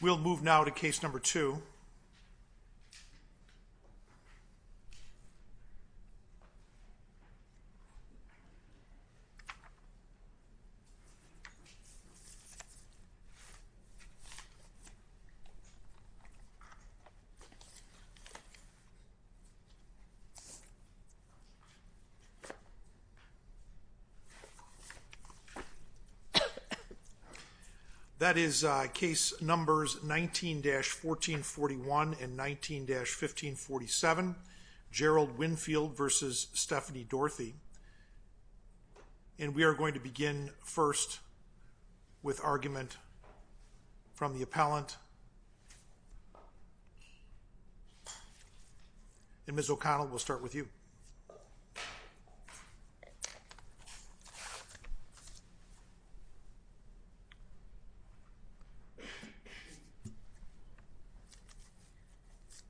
We'll move now to case number two. That is case numbers 19-1441 and 19-1442. And we are going to begin first with argument from the appellant. And Ms. O'Connell, we'll start with you.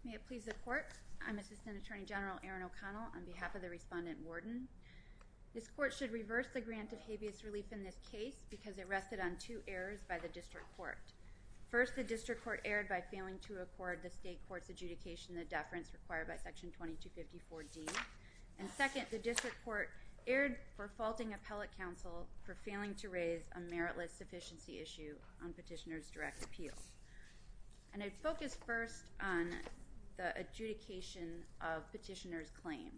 May it please the court, I'm Assistant Attorney General Erin O'Connell on behalf of the Respondent Warden. This court should reverse the grant of habeas relief in this case because it rested on two errors by the district court. First, the district court erred by failing to record the state court's adjudication of the deference required by section 2254D. And second, the district court erred for faulting appellate counsel for failing to raise a meritless sufficiency issue on petitioner's direct appeal. And I'd focus first on the adjudication of petitioner's claim.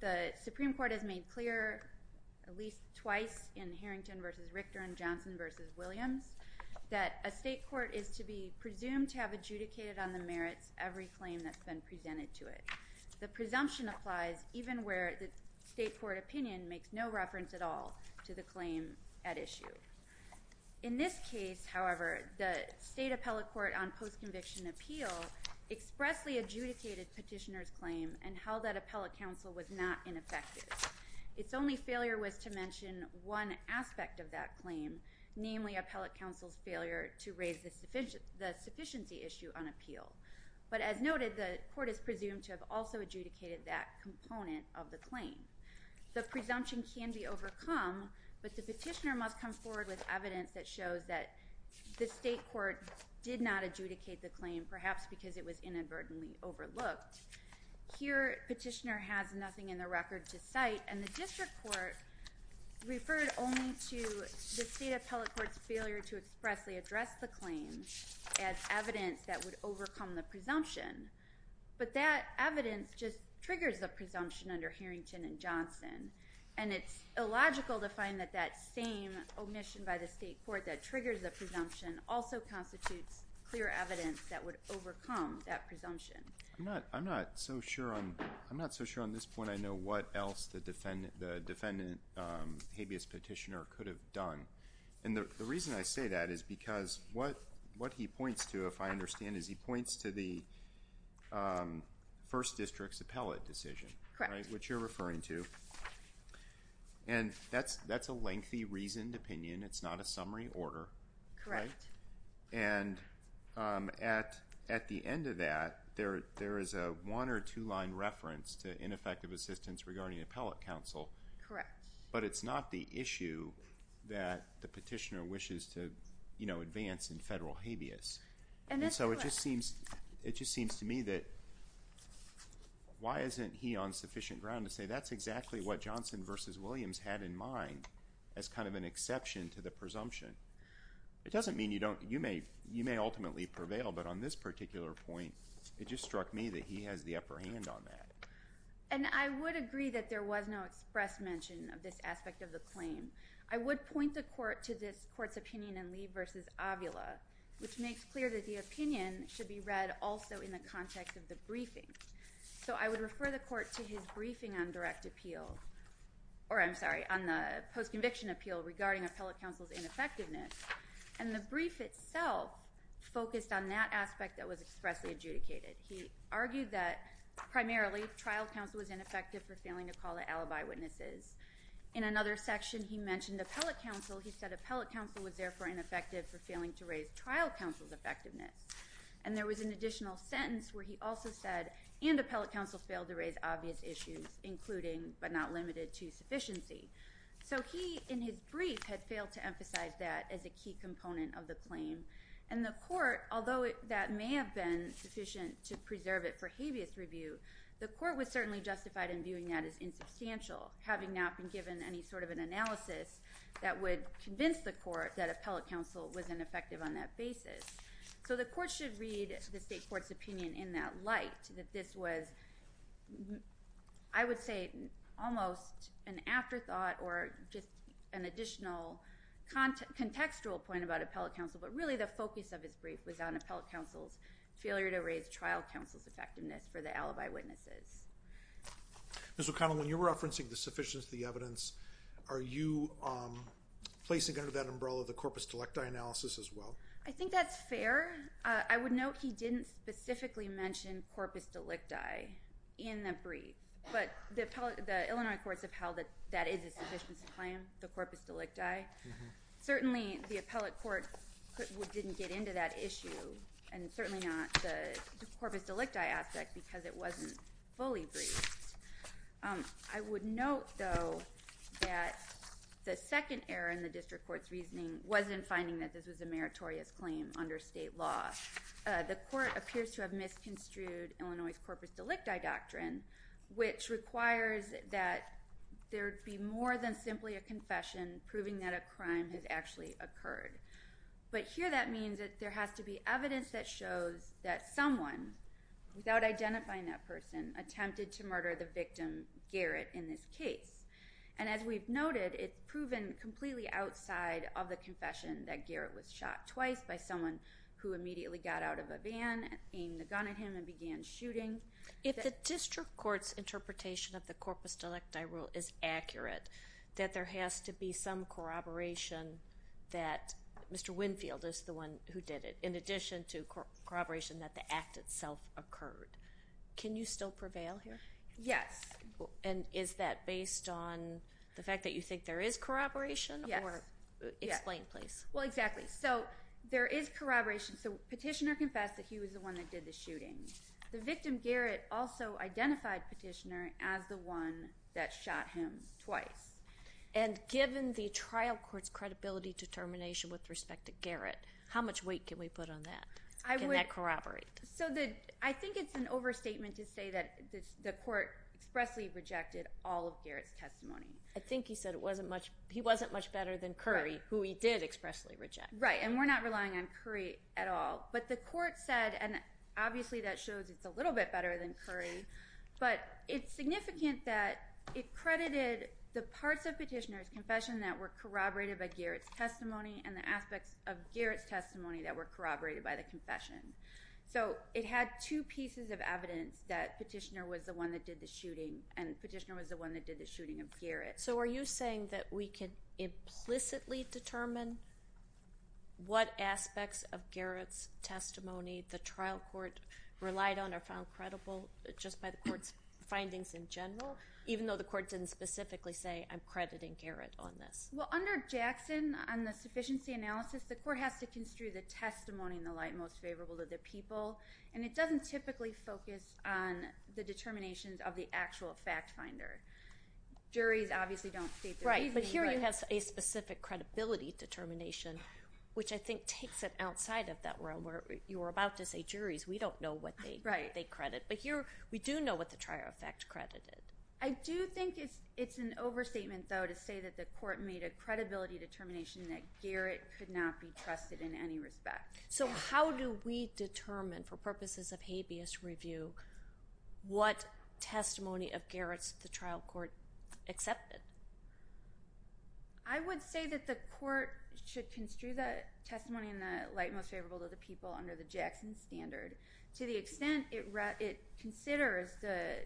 The Supreme Court has made clear at least twice in Harrington v. Richter and Johnson v. Williams that a state court is to be presumed to have adjudicated on the merits every claim that's been presented to it. The presumption applies even where the state court opinion makes no reference at all to the claim at issue. In this case, however, the state appellate court on post-conviction appeal expressly adjudicated petitioner's claim and held that appellate counsel was not ineffective. Its only failure was to mention one aspect of that claim, namely appellate counsel's failure to raise the sufficiency issue on appeal. The Supreme Court has made clear at least twice in Harrington v. Richter and Johnson to have also adjudicated that component of the claim. The presumption can be overcome, but the petitioner must come forward with evidence that shows that the state court did not adjudicate the claim, perhaps because it was inadvertently overlooked. Here, petitioner has nothing in the record to cite, and the district court referred only to the state appellate court's failure to expressly address the claim as evidence that Its only failure was to mention one aspect of that claim, namely appellate counsel's no in education and teacher's, but the presumption can be overcome, but the petitioner must come That evidence just triggers the presumption under Herrington and Johnson and its illogical to find that the same omission by the state court that triggers a presumption also constitutes clear evidence that would overcome that presumption I'm not so sure on this point I know what else the defendant habeas petitioner could have done, and the reason I say that is because what he points to if I understand is he points to the first district's appellate decision, which you're referring to, and that's a lengthy reasoned opinion, it's not a summary order, and at the end of that there is a one or two page document that the petitioner wishes to advance in federal habeas. So it just seems to me that why isn't he on sufficient ground to say that's exactly what Johnson versus Williams had in mind as kind of an exception to the presumption. It doesn't mean you may ultimately prevail, but on this particular point it just struck me that he has the upper hand on that. And I would agree that there was no express mention of this aspect of the claim. I would point the court to this court's opinion in Lee versus Avila, which makes clear that the opinion should be read also in the context of the briefing. So I would refer the court to his briefing on direct appeal, or I'm sorry, on the post-conviction appeal regarding appellate counsel's ineffectiveness, and the brief itself focused on that aspect that was expressly adjudicated. He argued that primarily trial counsel was ineffective for failing to call to alibi witnesses. In another section he mentioned appellate counsel. He said appellate counsel was therefore ineffective for failing to raise trial counsel's effectiveness. And there was an additional sentence where he also said, and appellate counsel failed to raise obvious issues, including but not limited to sufficiency. So he, in his brief, had failed to emphasize that as a key component of the claim. And the court, although that may have been sufficient to preserve it for habeas review, the court was certainly justified in viewing that as insubstantial, having not been given any sort of an analysis that would convince the court that appellate counsel was ineffective on that basis. So the court should read the state court's opinion in that light, that this was, I would say, almost an afterthought or just an additional contextual point about appellate counsel, but really the focus of his brief was on appellate counsel's failure to raise trial counsel's effectiveness for the alibi witnesses. Ms. O'Connell, when you're referencing the sufficiency of the evidence, are you placing under that umbrella the corpus delicti analysis as well? I think that's fair. I would note he didn't specifically mention corpus delicti in the brief, but the Illinois courts upheld that that is a sufficiency claim, the corpus delicti. Certainly the appellate court didn't get into that issue, and certainly not the corpus delicti aspect, because it wasn't fully briefed. I would note, though, that the second error in the district court's reasoning was in finding that this was a meritorious claim under state law. The court appears to have misconstrued Illinois' corpus delicti doctrine, which requires that there be more than simply a confession proving that a crime has actually occurred. But here that means that there has to be evidence that shows that someone, without identifying that person, attempted to murder the victim, Garrett, in this case. And as we've noted, it's proven completely outside of the confession that Garrett was shot twice by someone who immediately got out of a van, aimed the gun at him, and began shooting. If the district court's interpretation of the corpus delicti rule is accurate, that there has to be some corroboration that Mr. Winfield is the one who did it, in addition to corroboration that the act itself occurred. Can you still prevail here? Yes. And is that based on the fact that you think there is corroboration? Yes. Explain, please. Well, exactly. So there is corroboration. So Petitioner confessed that he was the one that did the shooting. The victim, Garrett, also identified Petitioner as the one that And given the trial court's credibility determination with respect to Garrett, how much weight can we put on that? Can that corroborate? So I think it's an overstatement to say that the court expressly rejected all of Garrett's testimony. I think he said he wasn't much better than Currie, who he did expressly reject. Right. And we're not relying on Currie at all. But the court said, and obviously that shows it's a little bit better than Currie, but it's significant that it credited the Petitioner's confession that were corroborated by Garrett's testimony and the aspects of Garrett's testimony that were corroborated by the confession. So it had two pieces of evidence that Petitioner was the one that did the shooting and Petitioner was the one that did the shooting of Garrett. So are you saying that we could implicitly determine what aspects of Garrett's testimony the trial court relied on or found credible just by the court's findings in general, even though the court didn't specifically say, I'm crediting Garrett on this? Well, under Jackson, on the sufficiency analysis, the court has to construe the testimony in the light most favorable to the people. And it doesn't typically focus on the determinations of the actual fact finder. Juries obviously don't state their reasoning. Right. But here you have a specific credibility determination, which I think takes it outside of that realm where you were about to say, juries, we don't know what they credit. But here we do know what the trial fact credited. I do think it's an overstatement, though, to say that the court made a credibility determination that Garrett could not be trusted in any respect. So how do we determine, for purposes of habeas review, what testimony of Garrett's the trial court accepted? I would say that the court should construe the testimony in the light most favorable to the people under the Jackson standard to the extent it considers the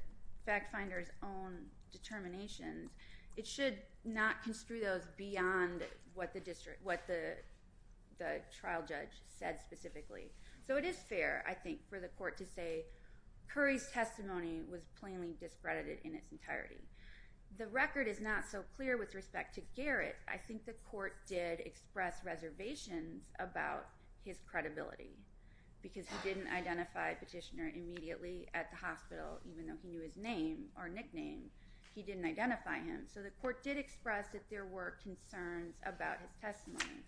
fact finder's own determinations. It should not construe those beyond what the trial judge said specifically. So it is fair, I think, for the court to say, Curry's testimony was plainly discredited in its entirety. The record is not so clear with respect to Garrett. I think the court did express reservations about his credibility because he didn't identify Petitioner immediately at the hospital, even though he knew his name or nickname. He didn't identify him. So the court did express that there were concerns about his testimony.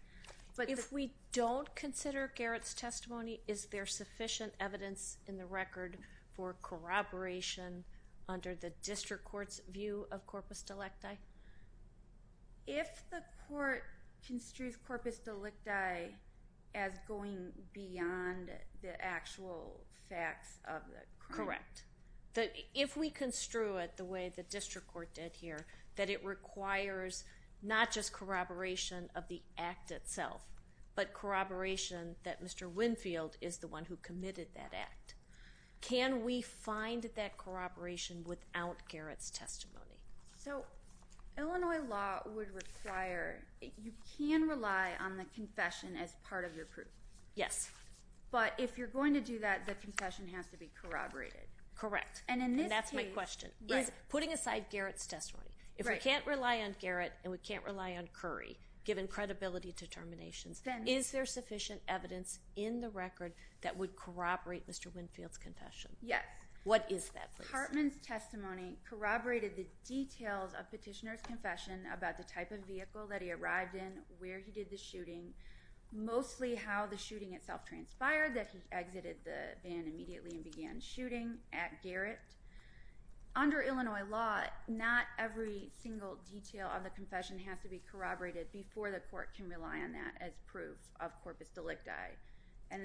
But if we don't consider Garrett's testimony, is there sufficient evidence in the record for corroboration under the district court's view of corpus delecti? If the court construes corpus delecti as going beyond the actual facts of the crime? Correct. If we construe it the way the district court did here, that it requires not just corroboration of the act itself, but corroboration that Mr. Winfield is the one who committed that act, can we find that corroboration without Garrett's testimony? So Illinois law would require, you can rely on the confession as part of your proof. Yes. But if you're going to do that, the confession has to be corroborated. Correct. And that's my question. Putting aside Garrett's testimony, if we can't rely on Garrett and we can't rely on Curry, given credibility determinations, is there sufficient evidence in the record that would corroborate Mr. Winfield's confession? Yes. What is that? Mr. Hartman's testimony corroborated the details of petitioner's confession about the type of vehicle that he arrived in, where he did the shooting, mostly how the shooting itself transpired, that he exited the van immediately and began shooting at Garrett. Under Illinois law, not every single detail of the confession has to be corroborated before the court can rely on that as proof of corpus delecti. And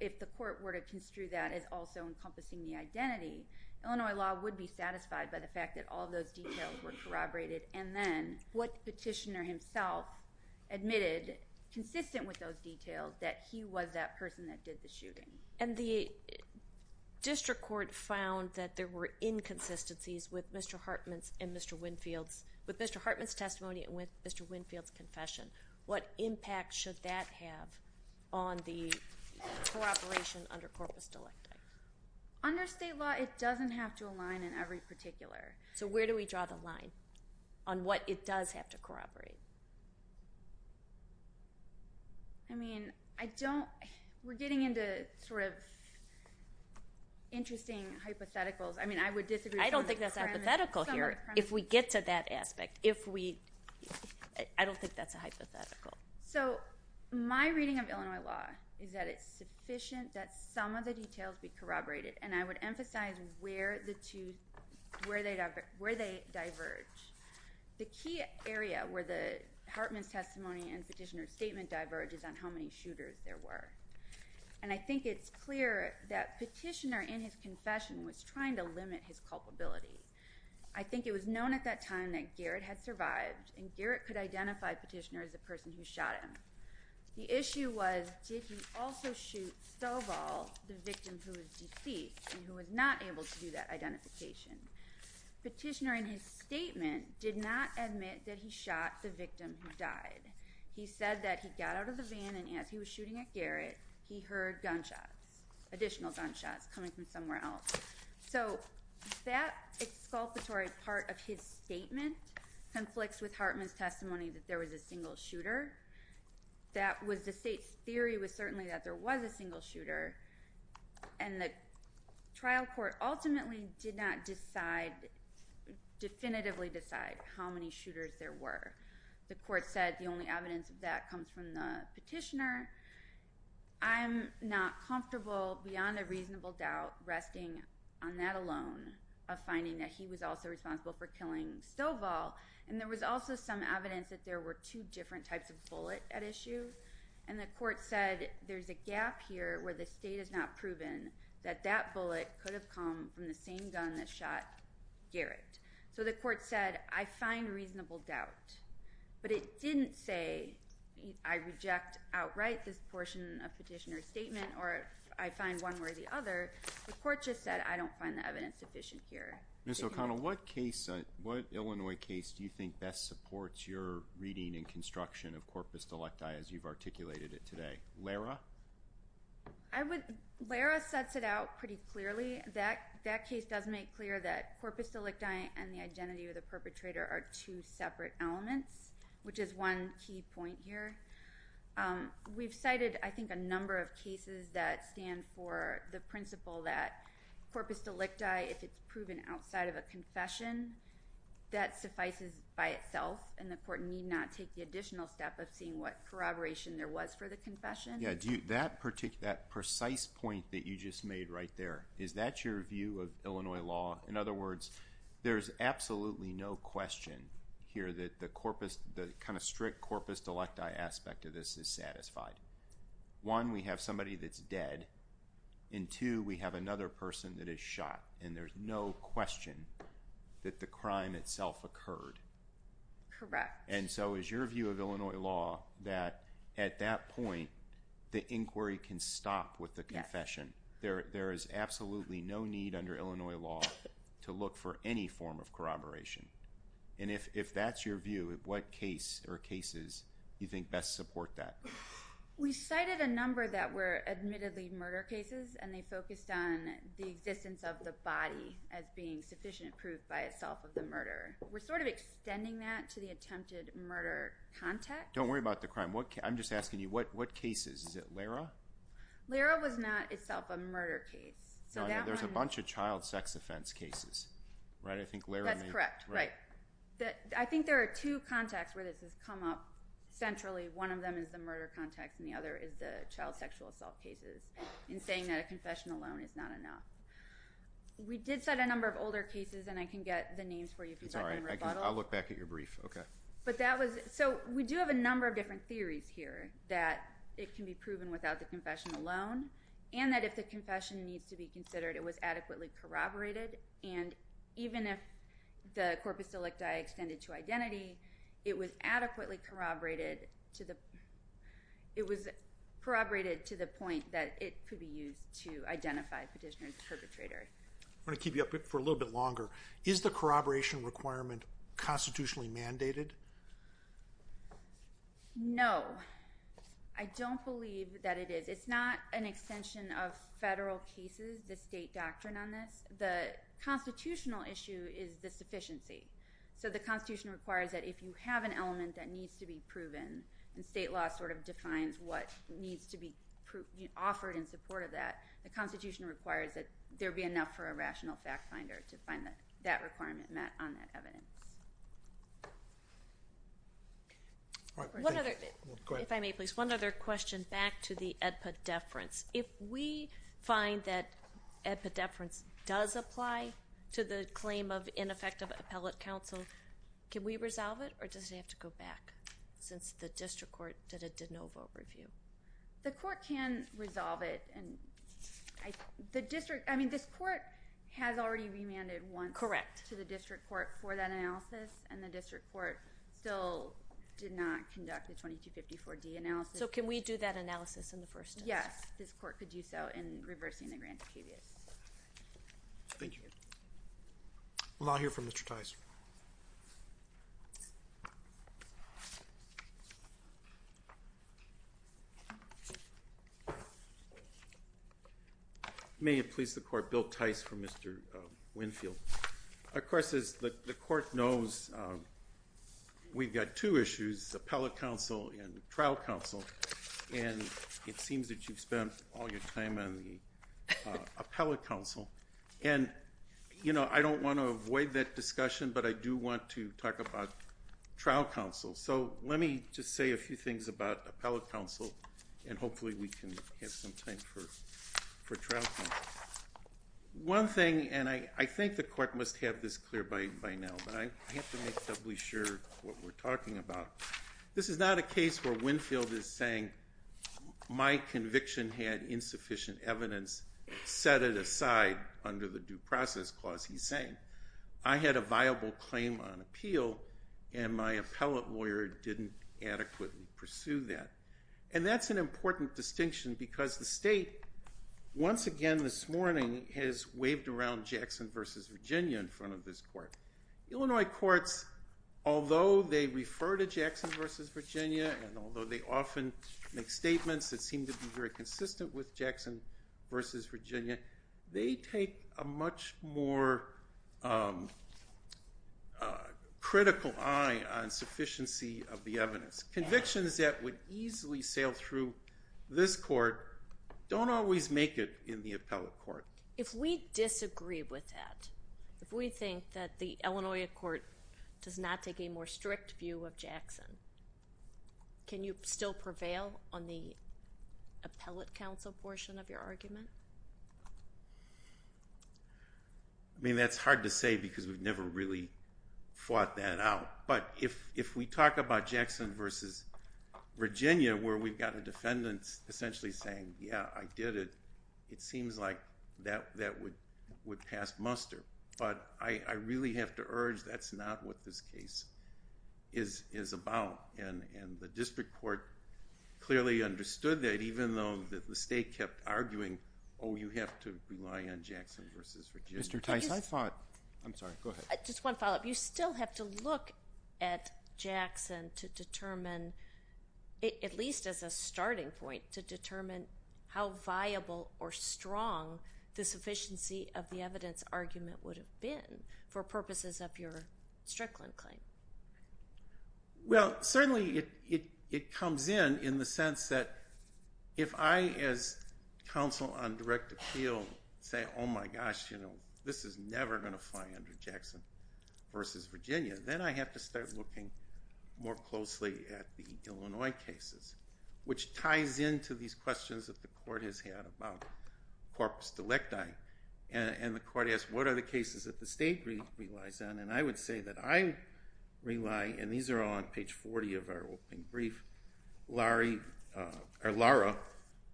if the court were to construe that as also encompassing the identity, Illinois law would be satisfied by the fact that all those details were corroborated. And then what petitioner himself admitted, consistent with those details, that he was that person that did the shooting. And the district court found that there were inconsistencies with Mr. Hartman's and Mr. Winfield's, with Mr. Hartman's testimony and with Mr. Winfield's confession. What impact should that have on the cooperation under corpus delecti? Under state law, it doesn't have to align in every particular. So where do we draw the line on what it does have to corroborate? I mean, I don't, we're getting into sort of interesting hypotheticals. I mean, I would disagree. I don't think that's hypothetical here. If we get to that aspect, if we, I don't think that's a hypothetical. So my reading of Illinois law is that it's sufficient that some of the details be corroborated. And I would emphasize where the two, where they diverge. The key area where the Hartman's testimony and petitioner's statement diverges on how many shooters there were. And I think it's clear that petitioner in his confession was trying to limit his culpability. I think it was known at that time that Garrett had survived and Garrett could identify petitioner as the person who shot him. The issue was, did he also shoot Stovall, the victim who was deceased and who was not able to do that identification? Petitioner in his statement did not admit that he shot the victim who died. He said that he got out of the van and as he was shooting at Garrett, he heard gunshots, additional gunshots coming from somewhere else. So that exculpatory part of his statement conflicts with Hartman's testimony that there was a single shooter. That was the state's theory was certainly that there was a single shooter. And the trial court ultimately did not decide, definitively decide how many shooters there were. The court said the only evidence of that comes from the petitioner. I'm not comfortable beyond a reasonable doubt resting on that alone of finding that he was also responsible for killing Stovall. And there was also some evidence that there were two different types of bullet at issue. And the court said there's a gap here where the state has not proven that that bullet could have come from the same gun that shot Garrett. So the court said, I find reasonable doubt. But it didn't say I reject outright this portion of petitioner's statement or I find one worthy other. The court just said I don't find the evidence sufficient here. Ms. O'Connell, what case, what Illinois case do you think best supports your reading and construction of corpus delicti as you've articulated it today? Lara? I would, Lara sets it out pretty clearly. That case does make clear that corpus delicti and the identity of the perpetrator are two separate elements, which is one key point here. We've cited, I think, a number of cases that stand for the principle that corpus delicti, if it's proven outside of a confession, that suffices by itself and the court need not take the additional step of seeing what corroboration there was for the confession. Yeah, do you, that precise point that you just made right there, is that your view of Illinois law? In other words, there's absolutely no question here that the corpus, the kind of strict corpus delicti aspect of this is satisfied. One, we have somebody that's dead and two, we have another person that is shot and there's no question that the crime itself occurred. Correct. And so is your view of Illinois law that at that point, the inquiry can stop with the confession. There is absolutely no need under Illinois law to look for any form of corroboration. And if that's your view, what case or cases do you think best support that? We cited a number that were admittedly murder cases and they focused on the existence of the body as being sufficient proof by itself of the murder. We're sort of extending that to the attempted murder context. Don't worry about the crime. I'm just asking you, what cases? Is it Lara? Lara was not itself a murder case. There's a bunch of child sex offense cases, right? That's correct. I think there are two contexts where this has come up centrally. One of them is the murder context and the other is the child sexual assault cases in saying that a confession alone is not enough. We did cite a number of older cases and I can get the names for you. I'll look back at your brief. So we do have a number of different theories here that it can be proven without the confession alone and that if the confession needs to be considered, it was adequately corroborated. And even if the corpus delicti extended to identity, it was adequately corroborated to the... it was corroborated to the point that it could be used to identify petitioner's perpetrator. I'm going to keep you up for a little bit longer. Is the corroboration requirement constitutionally mandated? No. I don't believe that it is. It's not an extension of federal cases, the state doctrine on this. The constitutional issue is the sufficiency. So the Constitution requires that if you have an element that needs to be proven, and state law sort of defines what needs to be offered in support of that, the Constitution requires that there be enough for a rational fact-finder to find that requirement on that evidence. One other... If I may, please, one other question back to the epidefference. If we find that epidefference does apply to the claim of ineffective appellate counsel, can we resolve it, or does it have to go back since the district court did a de novo review? The court can resolve it. I mean, this court has already remanded once to the district court for that analysis, and the district court still did not conduct the 2254-D analysis. So can we do that analysis in the first instance? Yes, this court could do so in reversing the grant of habeas. Thank you. We'll now hear from Mr. Tice. May it please the court, Bill Tice for Mr. Winfield. Of course, as the court knows, we've got two issues, appellate counsel and trial counsel, and it seems that you've spent all your time on the appellate counsel. And, you know, I don't want to avoid that discussion, but I do want to talk about trial counsel. So let me just say a few things about appellate counsel, and hopefully we can have some time for trial counsel. One thing, and I think the court must have this clear by now, but I have to make doubly sure what we're talking about. This is not a case where Winfield is saying, my conviction had insufficient evidence. Set it aside under the due process clause, he's saying. I had a viable claim on appeal, and my appellate lawyer didn't adequately pursue that. And that's an important distinction, because the state, once again this morning, has waved around Jackson v. Virginia in front of this court. Illinois courts, although they refer to Jackson v. Virginia, and although they often make statements that seem to be very consistent with Jackson v. Virginia, they take a much more critical eye on sufficiency of the evidence. Convictions that would easily sail through this court don't always make it in the appellate court. If we disagree with that, if we think that the Illinois court does not take a more strict view of Jackson, can you still prevail on the appellate counsel portion of your argument? I mean, that's hard to say because we've never really fought that out. But if we talk about Jackson v. Virginia, where we've got a defendant essentially saying, yeah, I did it, it seems like that would pass muster. But I really have to urge that's not what this case is about. And the district court clearly understood that, even though the state kept arguing, oh, you have to rely on Jackson v. Virginia. Mr. Tice, I thought... I'm sorry, go ahead. Just one follow-up. You still have to look at Jackson to determine, at least as a starting point, to determine how viable or strong the sufficiency of the evidence argument would have been for purposes of your Strickland claim. Well, certainly it comes in in the sense that if I, as counsel on direct appeal, say, oh, my gosh, you know, this is never going to fly under Jackson v. Virginia, then I have to start looking more closely at the Illinois cases, which ties into these questions that the court has had about corpus delecti. And the court asks, what are the cases that the state relies on? And I would say that I rely, and these are all on page 40 of our opening brief, Lara,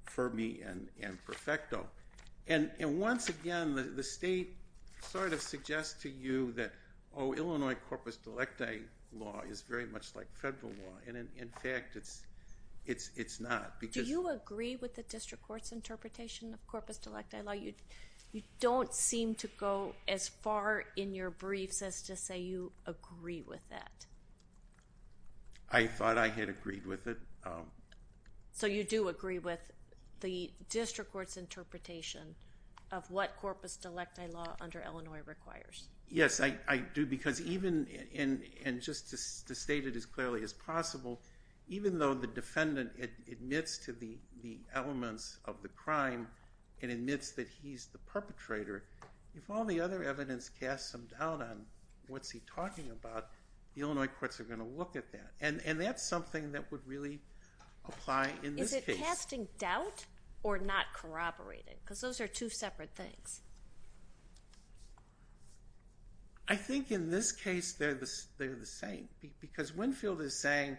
Fermi, and Perfecto. And once again, the state sort of suggests to you that, oh, Illinois corpus delecti law is very much like federal law. And in fact, it's not. Do you agree with the district court's interpretation of corpus delecti law? You don't seem to go as far in your briefs as to say you agree with that. I thought I had agreed with it. So you do agree with the district court's interpretation of what corpus delecti law under Illinois requires? Yes, I do, because even... To state it as clearly as possible, even though the defendant admits to the elements of the crime and admits that he's the perpetrator, if all the other evidence casts some doubt on what's he talking about, the Illinois courts are going to look at that. And that's something that would really apply in this case. Is it casting doubt or not corroborating? Because those are two separate things. I think in this case they're the same, because Winfield is saying,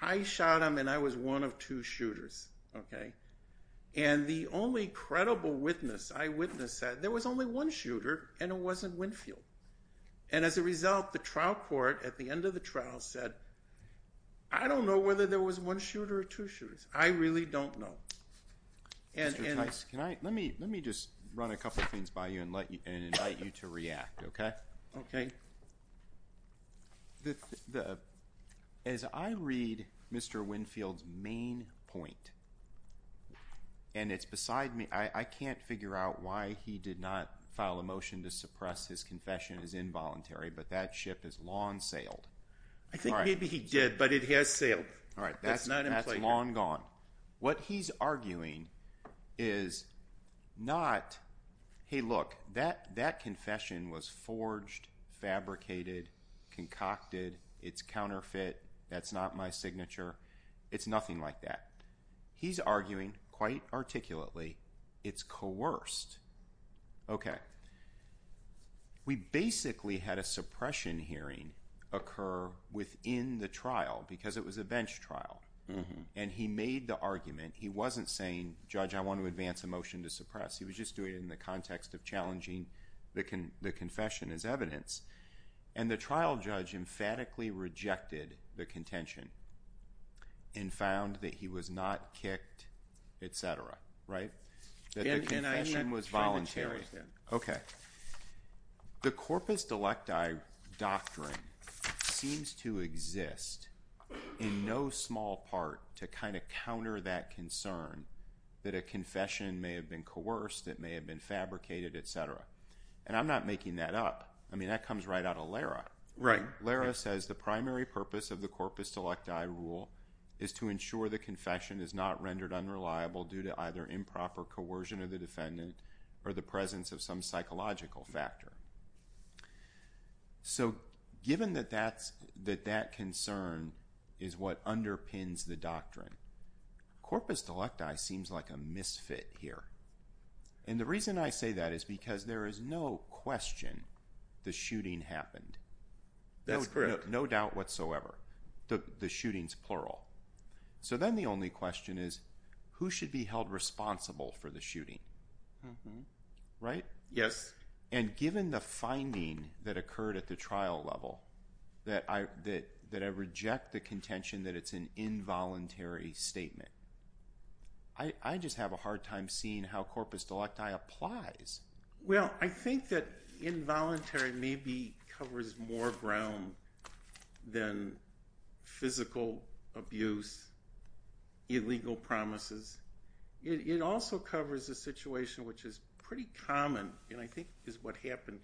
I shot him and I was one of two shooters, okay? And the only credible witness I witnessed said there was only one shooter and it wasn't Winfield. And as a result, the trial court at the end of the trial said, I don't know whether there was one shooter or two shooters. I really don't know. Mr. Tice, can I... I'm going to throw things by you and invite you to react, okay? Okay. As I read Mr. Winfield's main point, and it's beside me, I can't figure out why he did not file a motion to suppress his confession as involuntary, but that ship has long sailed. I think maybe he did, but it has sailed. All right, that's long gone. What he's arguing is not, hey, look, that confession was forged, fabricated, concocted, it's counterfeit, that's not my signature, it's nothing like that. He's arguing, quite articulately, it's coerced. Okay. We basically had a suppression hearing occur within the trial, because it was a bench trial. And he made the argument. He wasn't saying, Judge, I want to advance a motion to suppress. He was just doing it in the context of challenging the confession as evidence. And the trial judge emphatically rejected the contention and found that he was not kicked, etc., right? That the confession was voluntary. And I didn't try to challenge that. Okay. The corpus delecti doctrine seems to exist in no small part to kind of counter that concern that a confession may have been coerced, it may have been fabricated, etc. And I'm not making that up. I mean, that comes right out of Lara. Right. Lara says the primary purpose of the corpus delecti rule is to ensure the confession is not rendered unreliable due to either improper coercion of the defendant or the presence of some psychological factor. So given that that concern is what underpins the doctrine, corpus delecti seems like a misfit here. And the reason I say that is because there is no question the shooting happened. That's correct. No doubt whatsoever. The shooting's plural. So then the only question is, who should be held responsible for the shooting? Mm-hmm. Right? Yes. And given the finding that occurred at the trial level that I reject the contention that it's an involuntary statement, I just have a hard time seeing how corpus delecti applies. Well, I think that involuntary maybe covers more ground than physical abuse, illegal promises. It also covers a situation which is pretty common and I think is what happened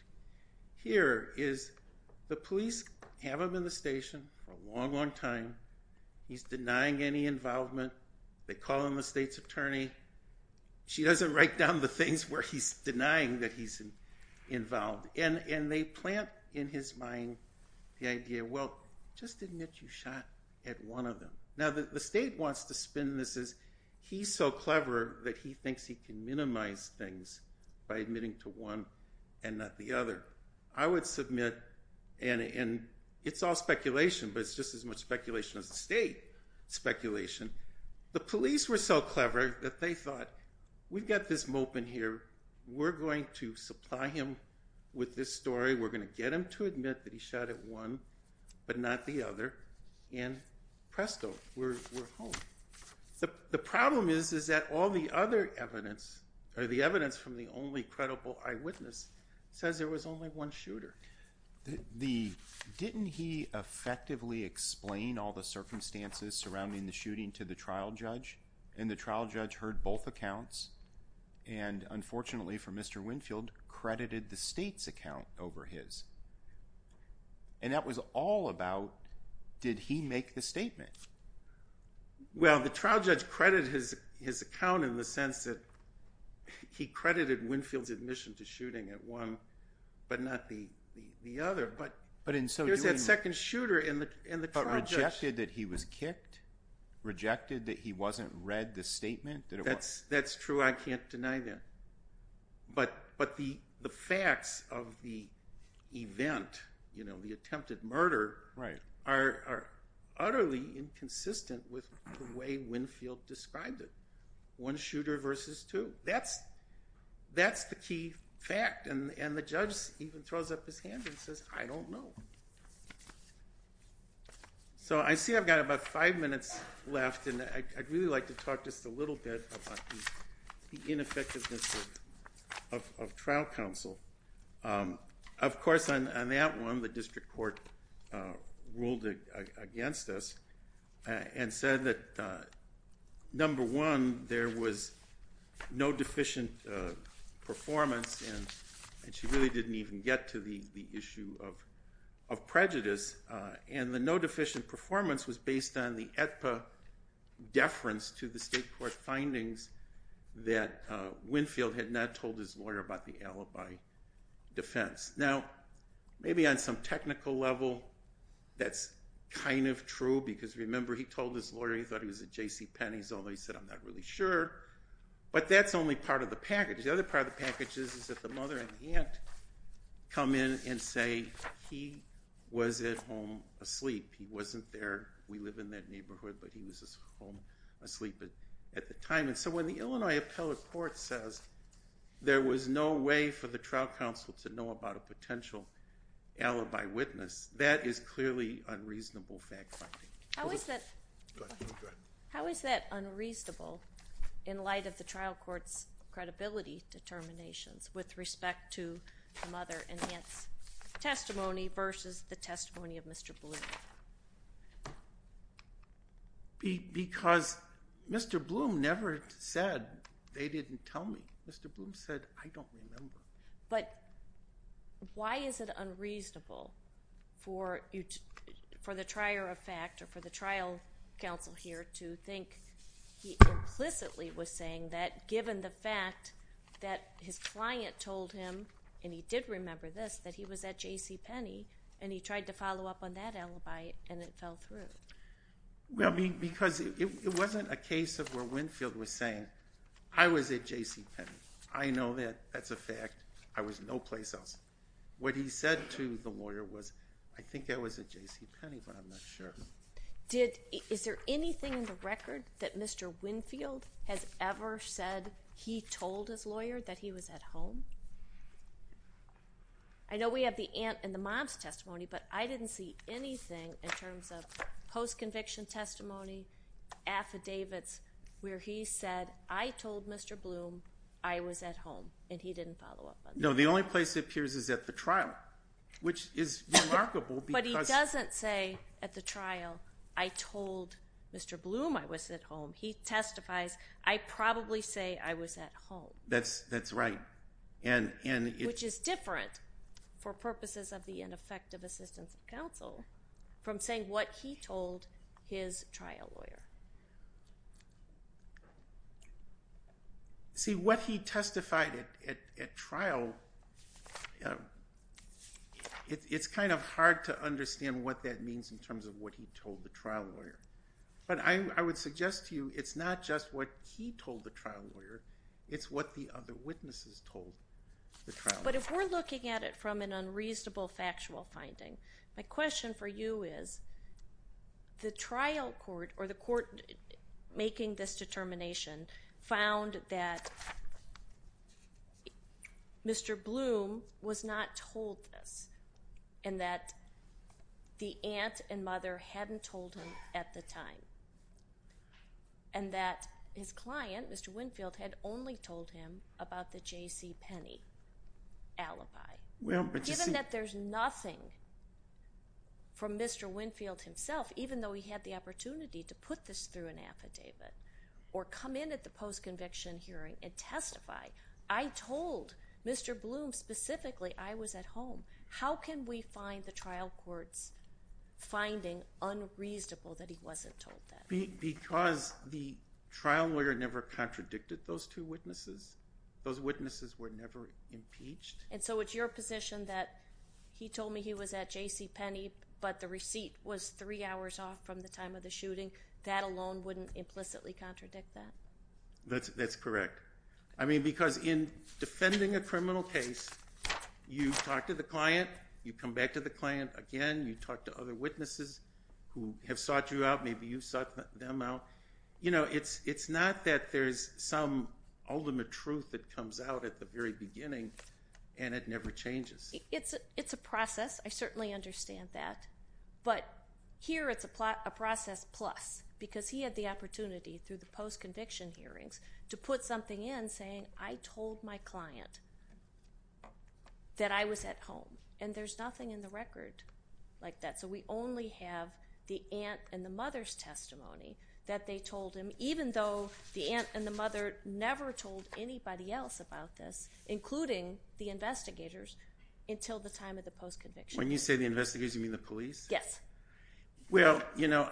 here, is the police have him in the station for a long, long time. He's denying any involvement. They call in the state's attorney. She doesn't write down the things where he's denying that he's involved. And they plant in his mind the idea, well, just admit you shot at one of them. Now, the state wants to spin this as, he's so clever that he thinks he can minimize things by admitting to one and not the other. I would submit, and it's all speculation, but it's just as much speculation as the state speculation. The police were so clever that they thought, we've got this mope in here, we're going to supply him with this story, we're going to get him to admit that he shot at one but not the other, and presto, we're home. The problem is that all the other evidence, or the evidence from the only credible eyewitness, says there was only one shooter. Didn't he effectively explain all the circumstances surrounding the shooting to the trial judge? And the trial judge heard both accounts and unfortunately for Mr. Winfield, credited the state's account over his. And that was all about, did he make the statement? Well, the trial judge credited his account in the sense that he credited Winfield's admission to shooting at one but not the other. But in so doing... There's that second shooter in the trial judge. But rejected that he was kicked? Rejected that he wasn't read the statement? That's true, I can't deny that. But the facts of the event, the attempted murder, are utterly inconsistent with the way Winfield described it. One shooter versus two. That's the key fact. And the judge even throws up his hand and says, I don't know. So I see I've got about five minutes left and I'd really like to talk just a little bit about the ineffectiveness of trial counsel. Of course, on that one, the district court ruled against us and said that, number one, there was no deficient performance and she really didn't even get to the issue of prejudice. And the no deficient performance was based on the AEDPA deference to the state court findings that Winfield had not told his lawyer about the alibi defense. Now, maybe on some technical level that's kind of true because remember he told his lawyer he thought he was at J.C. Penney's although he said, I'm not really sure. But that's only part of the package. The other part of the package is that the mother and aunt come in and say he was at home asleep. He wasn't there, we live in that neighborhood, but he was home asleep at the time. And so when the Illinois Appellate Court says there was no way for the trial counsel to know about a potential alibi witness, that is clearly unreasonable fact-finding. How is that unreasonable in light of the trial court's credibility determinations with respect to the mother and aunt's testimony versus the testimony of Mr. Bloom? Because Mr. Bloom never said they didn't tell me. Mr. Bloom said, I don't remember. But why is it unreasonable for the trier of fact or for the trial counsel here to think he implicitly was saying that given the fact that his client told him, and he did remember this, that he was at J.C. Penney, and he tried to follow up on that alibi and it fell through? Well, because it wasn't a case of where Winfield was saying, I was at J.C. Penney. I know that, that's a fact. I was no place else. What he said to the lawyer was, I think I was at J.C. Penney, but I'm not sure. Is there anything in the record that Mr. Winfield has ever said he told his lawyer that he was at home? I know we have the aunt and the mom's testimony, but I didn't see anything in terms of post-conviction testimony, affidavits, where he said, I told Mr. Bloom I was at home, and he didn't follow up on that. No, the only place it appears is at the trial, which is remarkable because... But he doesn't say at the trial, I told Mr. Bloom I was at home. He testifies, I probably say I was at home. That's right. Which is different, for purposes of the ineffective assistance of counsel, from saying what he told his trial lawyer. See, what he testified at trial... It's kind of hard to understand what that means in terms of what he told the trial lawyer. But I would suggest to you, it's not just what he told the trial lawyer, it's what the other witnesses told the trial lawyer. But if we're looking at it from an unreasonable factual finding, my question for you is, the trial court, or the court making this determination, found that... Mr. Bloom was not told this, and that the aunt and mother hadn't told him at the time. And that his client, Mr. Winfield, had only told him about the JCPenney alibi. Given that there's nothing from Mr. Winfield himself, even though he had the opportunity to put this through an affidavit, or come in at the post-conviction hearing and testify, I told Mr. Bloom specifically I was at home. How can we find the trial court's finding unreasonable that he wasn't told? Because the trial lawyer never contradicted those two witnesses. Those witnesses were never impeached. And so it's your position that he told me he was at JCPenney, but the receipt was 3 hours off from the time of the shooting. That alone wouldn't implicitly contradict that? That's correct. I mean, because in defending a criminal case, you talk to the client, you come back to the client again, you talk to other witnesses who have sought you out, maybe you sought them out. You know, it's not that there's some ultimate truth that comes out at the very beginning, and it never changes. It's a process, I certainly understand that. But here it's a process plus, because he had the opportunity through the post-conviction hearings to put something in saying, I told my client that I was at home, and there's nothing in the record like that. So we only have the aunt and the mother's testimony that they told him, even though the aunt and the mother never told anybody else about this, including the investigators, until the time of the post-conviction. When you say the investigators, you mean the police? Yes. Well, you know,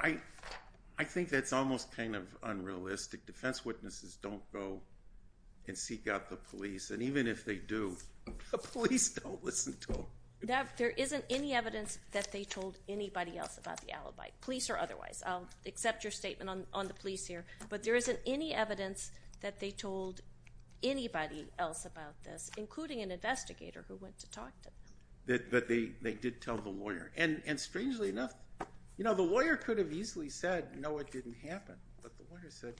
I think that's almost kind of unrealistic. Defense witnesses don't go and seek out the police, and even if they do, the police don't listen to them. There isn't any evidence that they told anybody else about the alibi, police or otherwise. I'll accept your statement on the police here, but there isn't any evidence that they told anybody else about this, including an investigator who went to talk to them. But they did tell the lawyer. And strangely enough, you know, the lawyer could have easily said, you know, it didn't happen, but the lawyer said,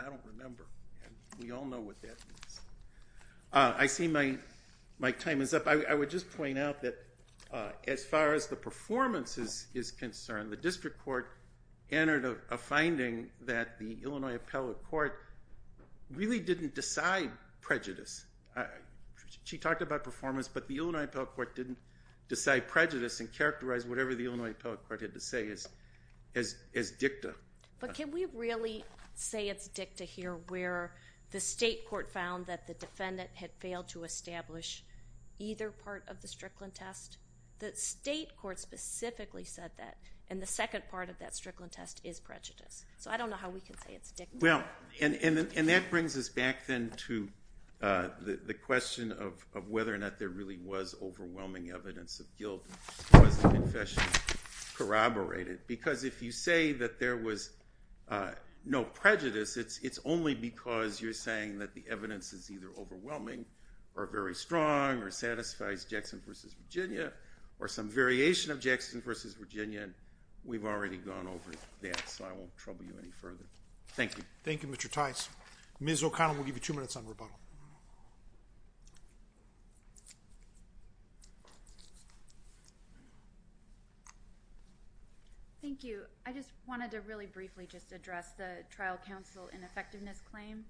I don't remember, and we all know what that means. I see my time is up. I would just point out that as far as the performance is concerned, the district court entered a finding that the Illinois Appellate Court really didn't decide prejudice. She talked about performance, but the Illinois Appellate Court didn't decide prejudice and characterize whatever the Illinois Appellate Court had to say as dicta. But can we really say it's dicta here, where the state court found that the defendant had failed to establish either part of the Strickland test? The state court specifically said that, and the second part of that Strickland test is prejudice. So I don't know how we can say it's dicta. Well, and that brings us back then to the question of whether or not there really was overwhelming evidence of guilt because the confession corroborated. Because if you say that there was no prejudice, it's only because you're saying that the evidence is either overwhelming or very strong or satisfies Jackson v. Virginia or some variation of Jackson v. Virginia, we've already gone over that, so I won't trouble you any further. Thank you. Thank you, Mr. Tice. Ms. O'Connell, we'll give you two minutes on rebuttal. Thank you. I just wanted to really briefly just address the trial counsel ineffectiveness claim.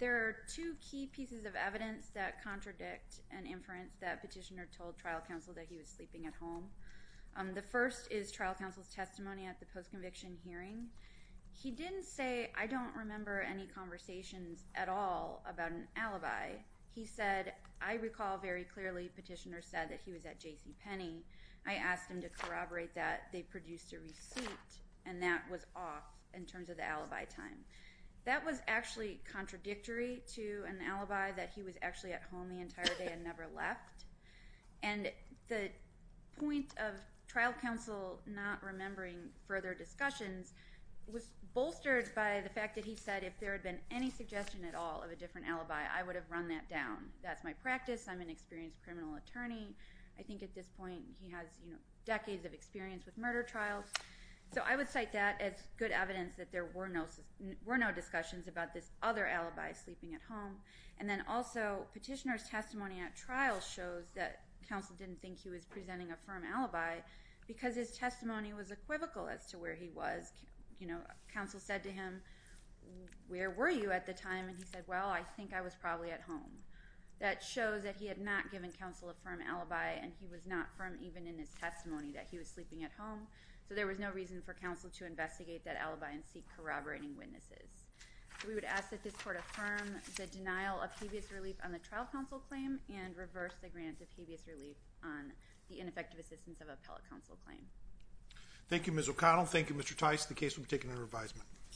There are two key pieces of evidence that contradict an inference that Petitioner told trial counsel that he was sleeping at home. The first is trial counsel's testimony at the post-conviction hearing. He didn't say, I don't remember any conversations at all about an alibi. He said, I recall very clearly Petitioner said that he was at JCPenney. I asked him to corroborate that. He said that they produced a receipt and that was off in terms of the alibi time. That was actually contradictory to an alibi that he was actually at home the entire day and never left. And the point of trial counsel not remembering further discussions was bolstered by the fact that he said if there had been any suggestion at all of a different alibi, I would have run that down. That's my practice. I'm an experienced criminal attorney. I think at this point he has, you know, a lot of experience with murder trials. So I would cite that as good evidence that there were no discussions about this other alibi, sleeping at home. And then also Petitioner's testimony at trial shows that counsel didn't think he was presenting a firm alibi because his testimony was equivocal as to where he was. You know, counsel said to him, where were you at the time? And he said, well, I think I was probably at home. That shows that he had not given counsel a firm alibi and he was not firm even in his testimony that he was sleeping at home. So there was no reason for counsel to investigate that alibi and seek corroborating witnesses. We would ask that this court affirm the denial of habeas relief on the trial counsel claim and reverse the grant of habeas relief on the ineffective assistance of appellate counsel claim. Thank you, Ms. O'Connell. Thank you, Mr. Tice. The case will be taken under advisement.